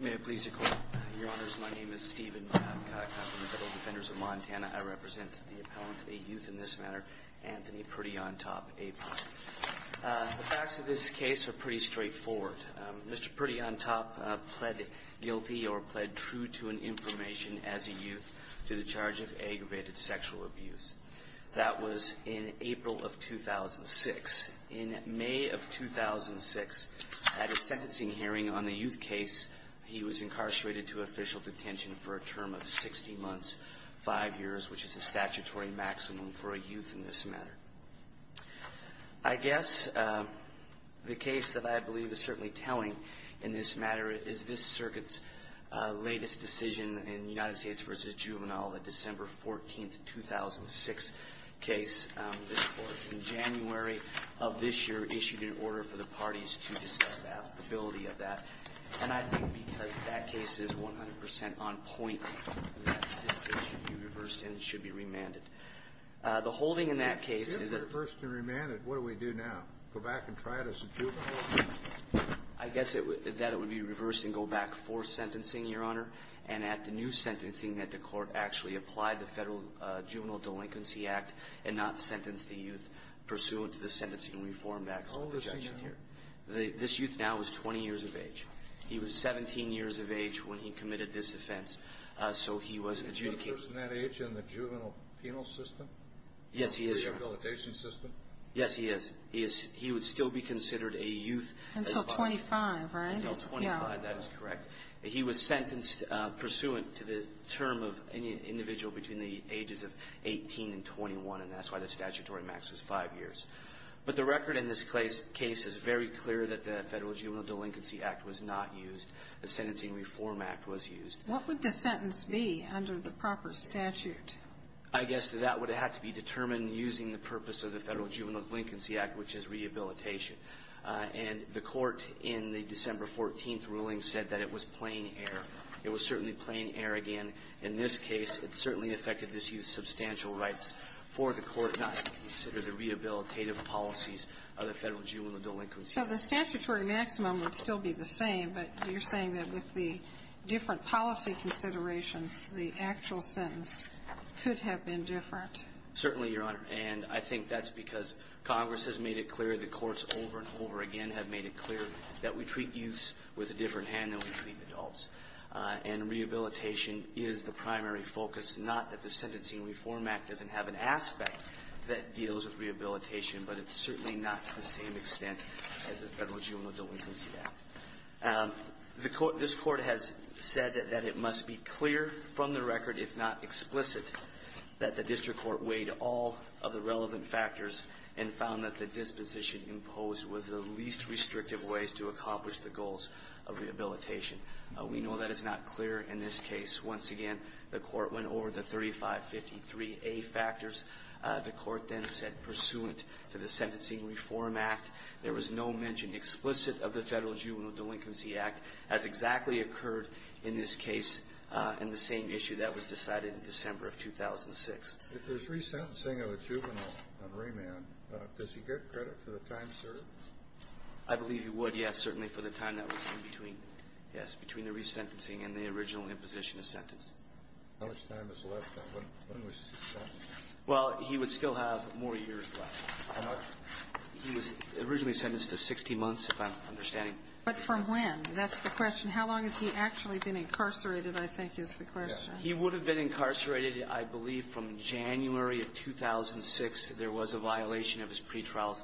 May it please the Court. Your Honors, my name is Stephen Babcock. I'm from the Federal Defenders of Montana. I represent the appellant, a youth in this manner, Anthony Prettyontop, A.P.O.T. The facts of this case are pretty straightforward. Mr. Prettyontop pled guilty or pled true to an information as a youth to the charge of aggravated sexual abuse. That was in April of 2006. In May of 2006, at a sentencing hearing on a youth case, he was incarcerated to official detention for a term of 60 months, 5 years, which is the statutory maximum for a youth in this manner. I guess the case that I believe is certainly telling in this matter is this Circuit's latest decision in United States v. Juvenile, the December 14th, 2006 case. This Court in January of this year issued an order for the parties to discuss the applicability of that. And I think because that case is 100 percent on point, that decision should be reversed and it should be remanded. The holding in that case is that — If it were reversed and remanded, what do we do now? Go back and try it as a juvenile? I guess that it would be reversed and go back for sentencing, Your Honor. And at the new sentencing, that the Court actually applied the Federal Juvenile Delinquency Act and not sentence the youth pursuant to the sentencing reform act. How old is he now? This youth now is 20 years of age. He was 17 years of age when he committed this offense, so he wasn't adjudicated. Is he a person that age in the juvenile penal system? Yes, he is, Your Honor. In the rehabilitation system? Yes, he is. He would still be considered a youth. Until 25, right? Until 25, that is correct. He was sentenced pursuant to the term of any individual between the ages of 18 and 21, and that's why the statutory max is 5 years. But the record in this case is very clear that the Federal Juvenile Delinquency Act was not used. The Sentencing Reform Act was used. What would the sentence be under the proper statute? I guess that that would have to be determined using the purpose of the Federal Juvenile Delinquency Act, which is rehabilitation. And the Court in the December 14th ruling said that it was plain error. It was certainly plain error again in this case. It certainly affected this youth's substantial rights for the Court not to consider the rehabilitative policies of the Federal Juvenile Delinquency Act. So the statutory maximum would still be the same, but you're saying that with the different policy considerations, the actual sentence could have been different. Certainly, Your Honor. And I think that's because Congress has made it clear, the courts over and over again have made it clear that we treat youths with a different hand than we treat adults. And rehabilitation is the primary focus, not that the Sentencing Reform Act doesn't have an aspect that deals with rehabilitation, but it's certainly not to the same extent as the Federal Juvenile Delinquency Act. This Court has said that it must be clear from the record, if not explicit, that the district court weighed all of the relevant factors and found that the disposition imposed was the least restrictive ways to accomplish the goals of rehabilitation. We know that is not clear in this case. Once again, the Court went over the 3553A factors. The Court then said, pursuant to the Sentencing Reform Act, there was no mention explicit of the Federal Juvenile Delinquency Act as exactly occurred in this case in the same issue that was decided in December of 2006. If there's resentencing of a juvenile on remand, does he get credit for the time served? I believe he would, yes, certainly for the time that was in between, yes, between the resentencing and the original imposition of sentence. How much time is left? When was he sentenced? Well, he would still have more years left. How much? He was originally sentenced to 60 months, if I'm understanding. But from when? That's the question. How long has he actually been incarcerated, I think, is the question. Yes. He would have been incarcerated, I believe, from January of 2006. There was a violation of his pretrial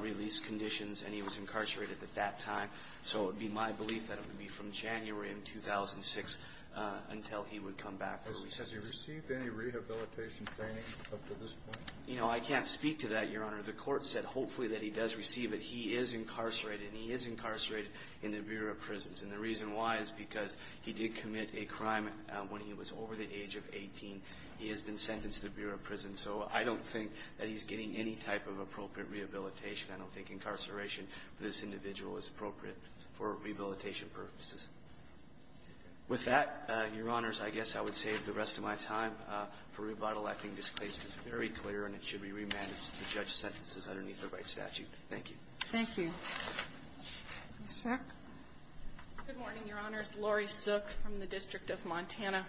release conditions, and he was incarcerated at that time. So it would be my belief that it would be from January of 2006 until he would come back for resentence. Has he received any rehabilitation training up to this point? You know, I can't speak to that, Your Honor. The Court said hopefully that he does receive it. He is incarcerated, and he is incarcerated in the Bureau of Prisons. And the reason why is because he did commit a crime when he was over the age of 18. He has been sentenced to the Bureau of Prisons. So I don't think that he's getting any type of appropriate rehabilitation. I don't think incarceration for this individual is appropriate for rehabilitation purposes. With that, Your Honors, I guess I would save the rest of my time for rebuttal. I think this case is very clear, and it should be remanded to judge sentences underneath the right statute. Thank you. Thank you. Ms. Sook. Good morning, Your Honors. Lori Sook from the District of Montana.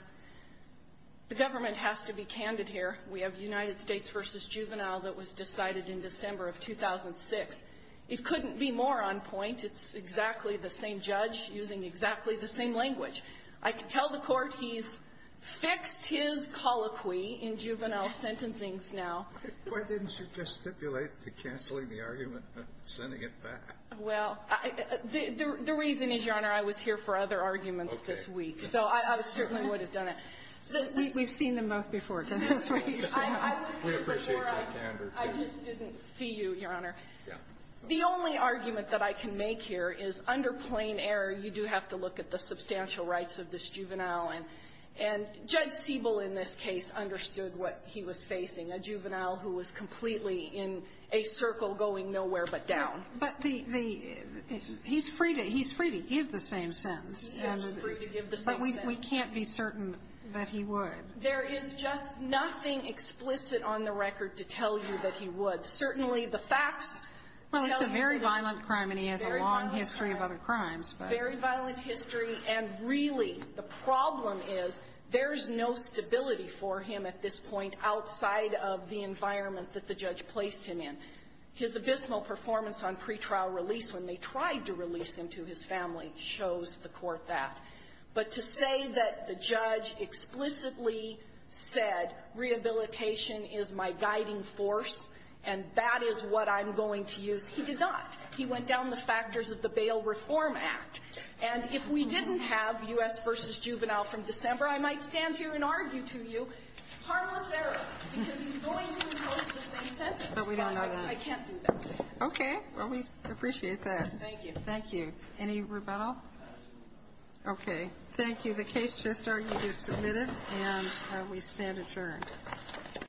The government has to be candid here. We have United States v. Juvenile that was decided in December of 2006. It couldn't be more on point. It's exactly the same judge using exactly the same language. I can tell the Court he's fixed his colloquy in juvenile sentencing now. Why didn't you just stipulate to canceling the argument and sending it back? Well, the reason is, Your Honor, I was here for other arguments this week. Okay. So I certainly would have done it. We've seen them both before. We appreciate your candor. I just didn't see you, Your Honor. Yeah. The only argument that I can make here is, under plain error, you do have to look at the substantial rights of this juvenile. And Judge Siebel in this case understood what he was facing, a juvenile who was completely in a circle going nowhere but down. He is free to give the same sentence. But we can't be certain that he would. There is just nothing explicit on the record to tell you that he would. Certainly, the facts tell you that he would. Well, it's a very violent crime, and he has a long history of other crimes. Very violent crime. Very violent history. And really, the problem is there's no stability for him at this point outside of the environment that the judge placed him in. His abysmal performance on pretrial release when they tried to release him to his family shows the Court that. But to say that the judge explicitly said, rehabilitation is my guiding force and that is what I'm going to use, he did not. He went down the factors of the Bail Reform Act. And if we didn't have U.S. v. Juvenile from December, I might stand here and argue to you, harmless error, because he's going to impose the same sentence. But we don't know that. I can't do that. Okay. Well, we appreciate that. Thank you. Thank you. Any rebuttal? Okay. Thank you. The case just argued is submitted, and we stand adjourned.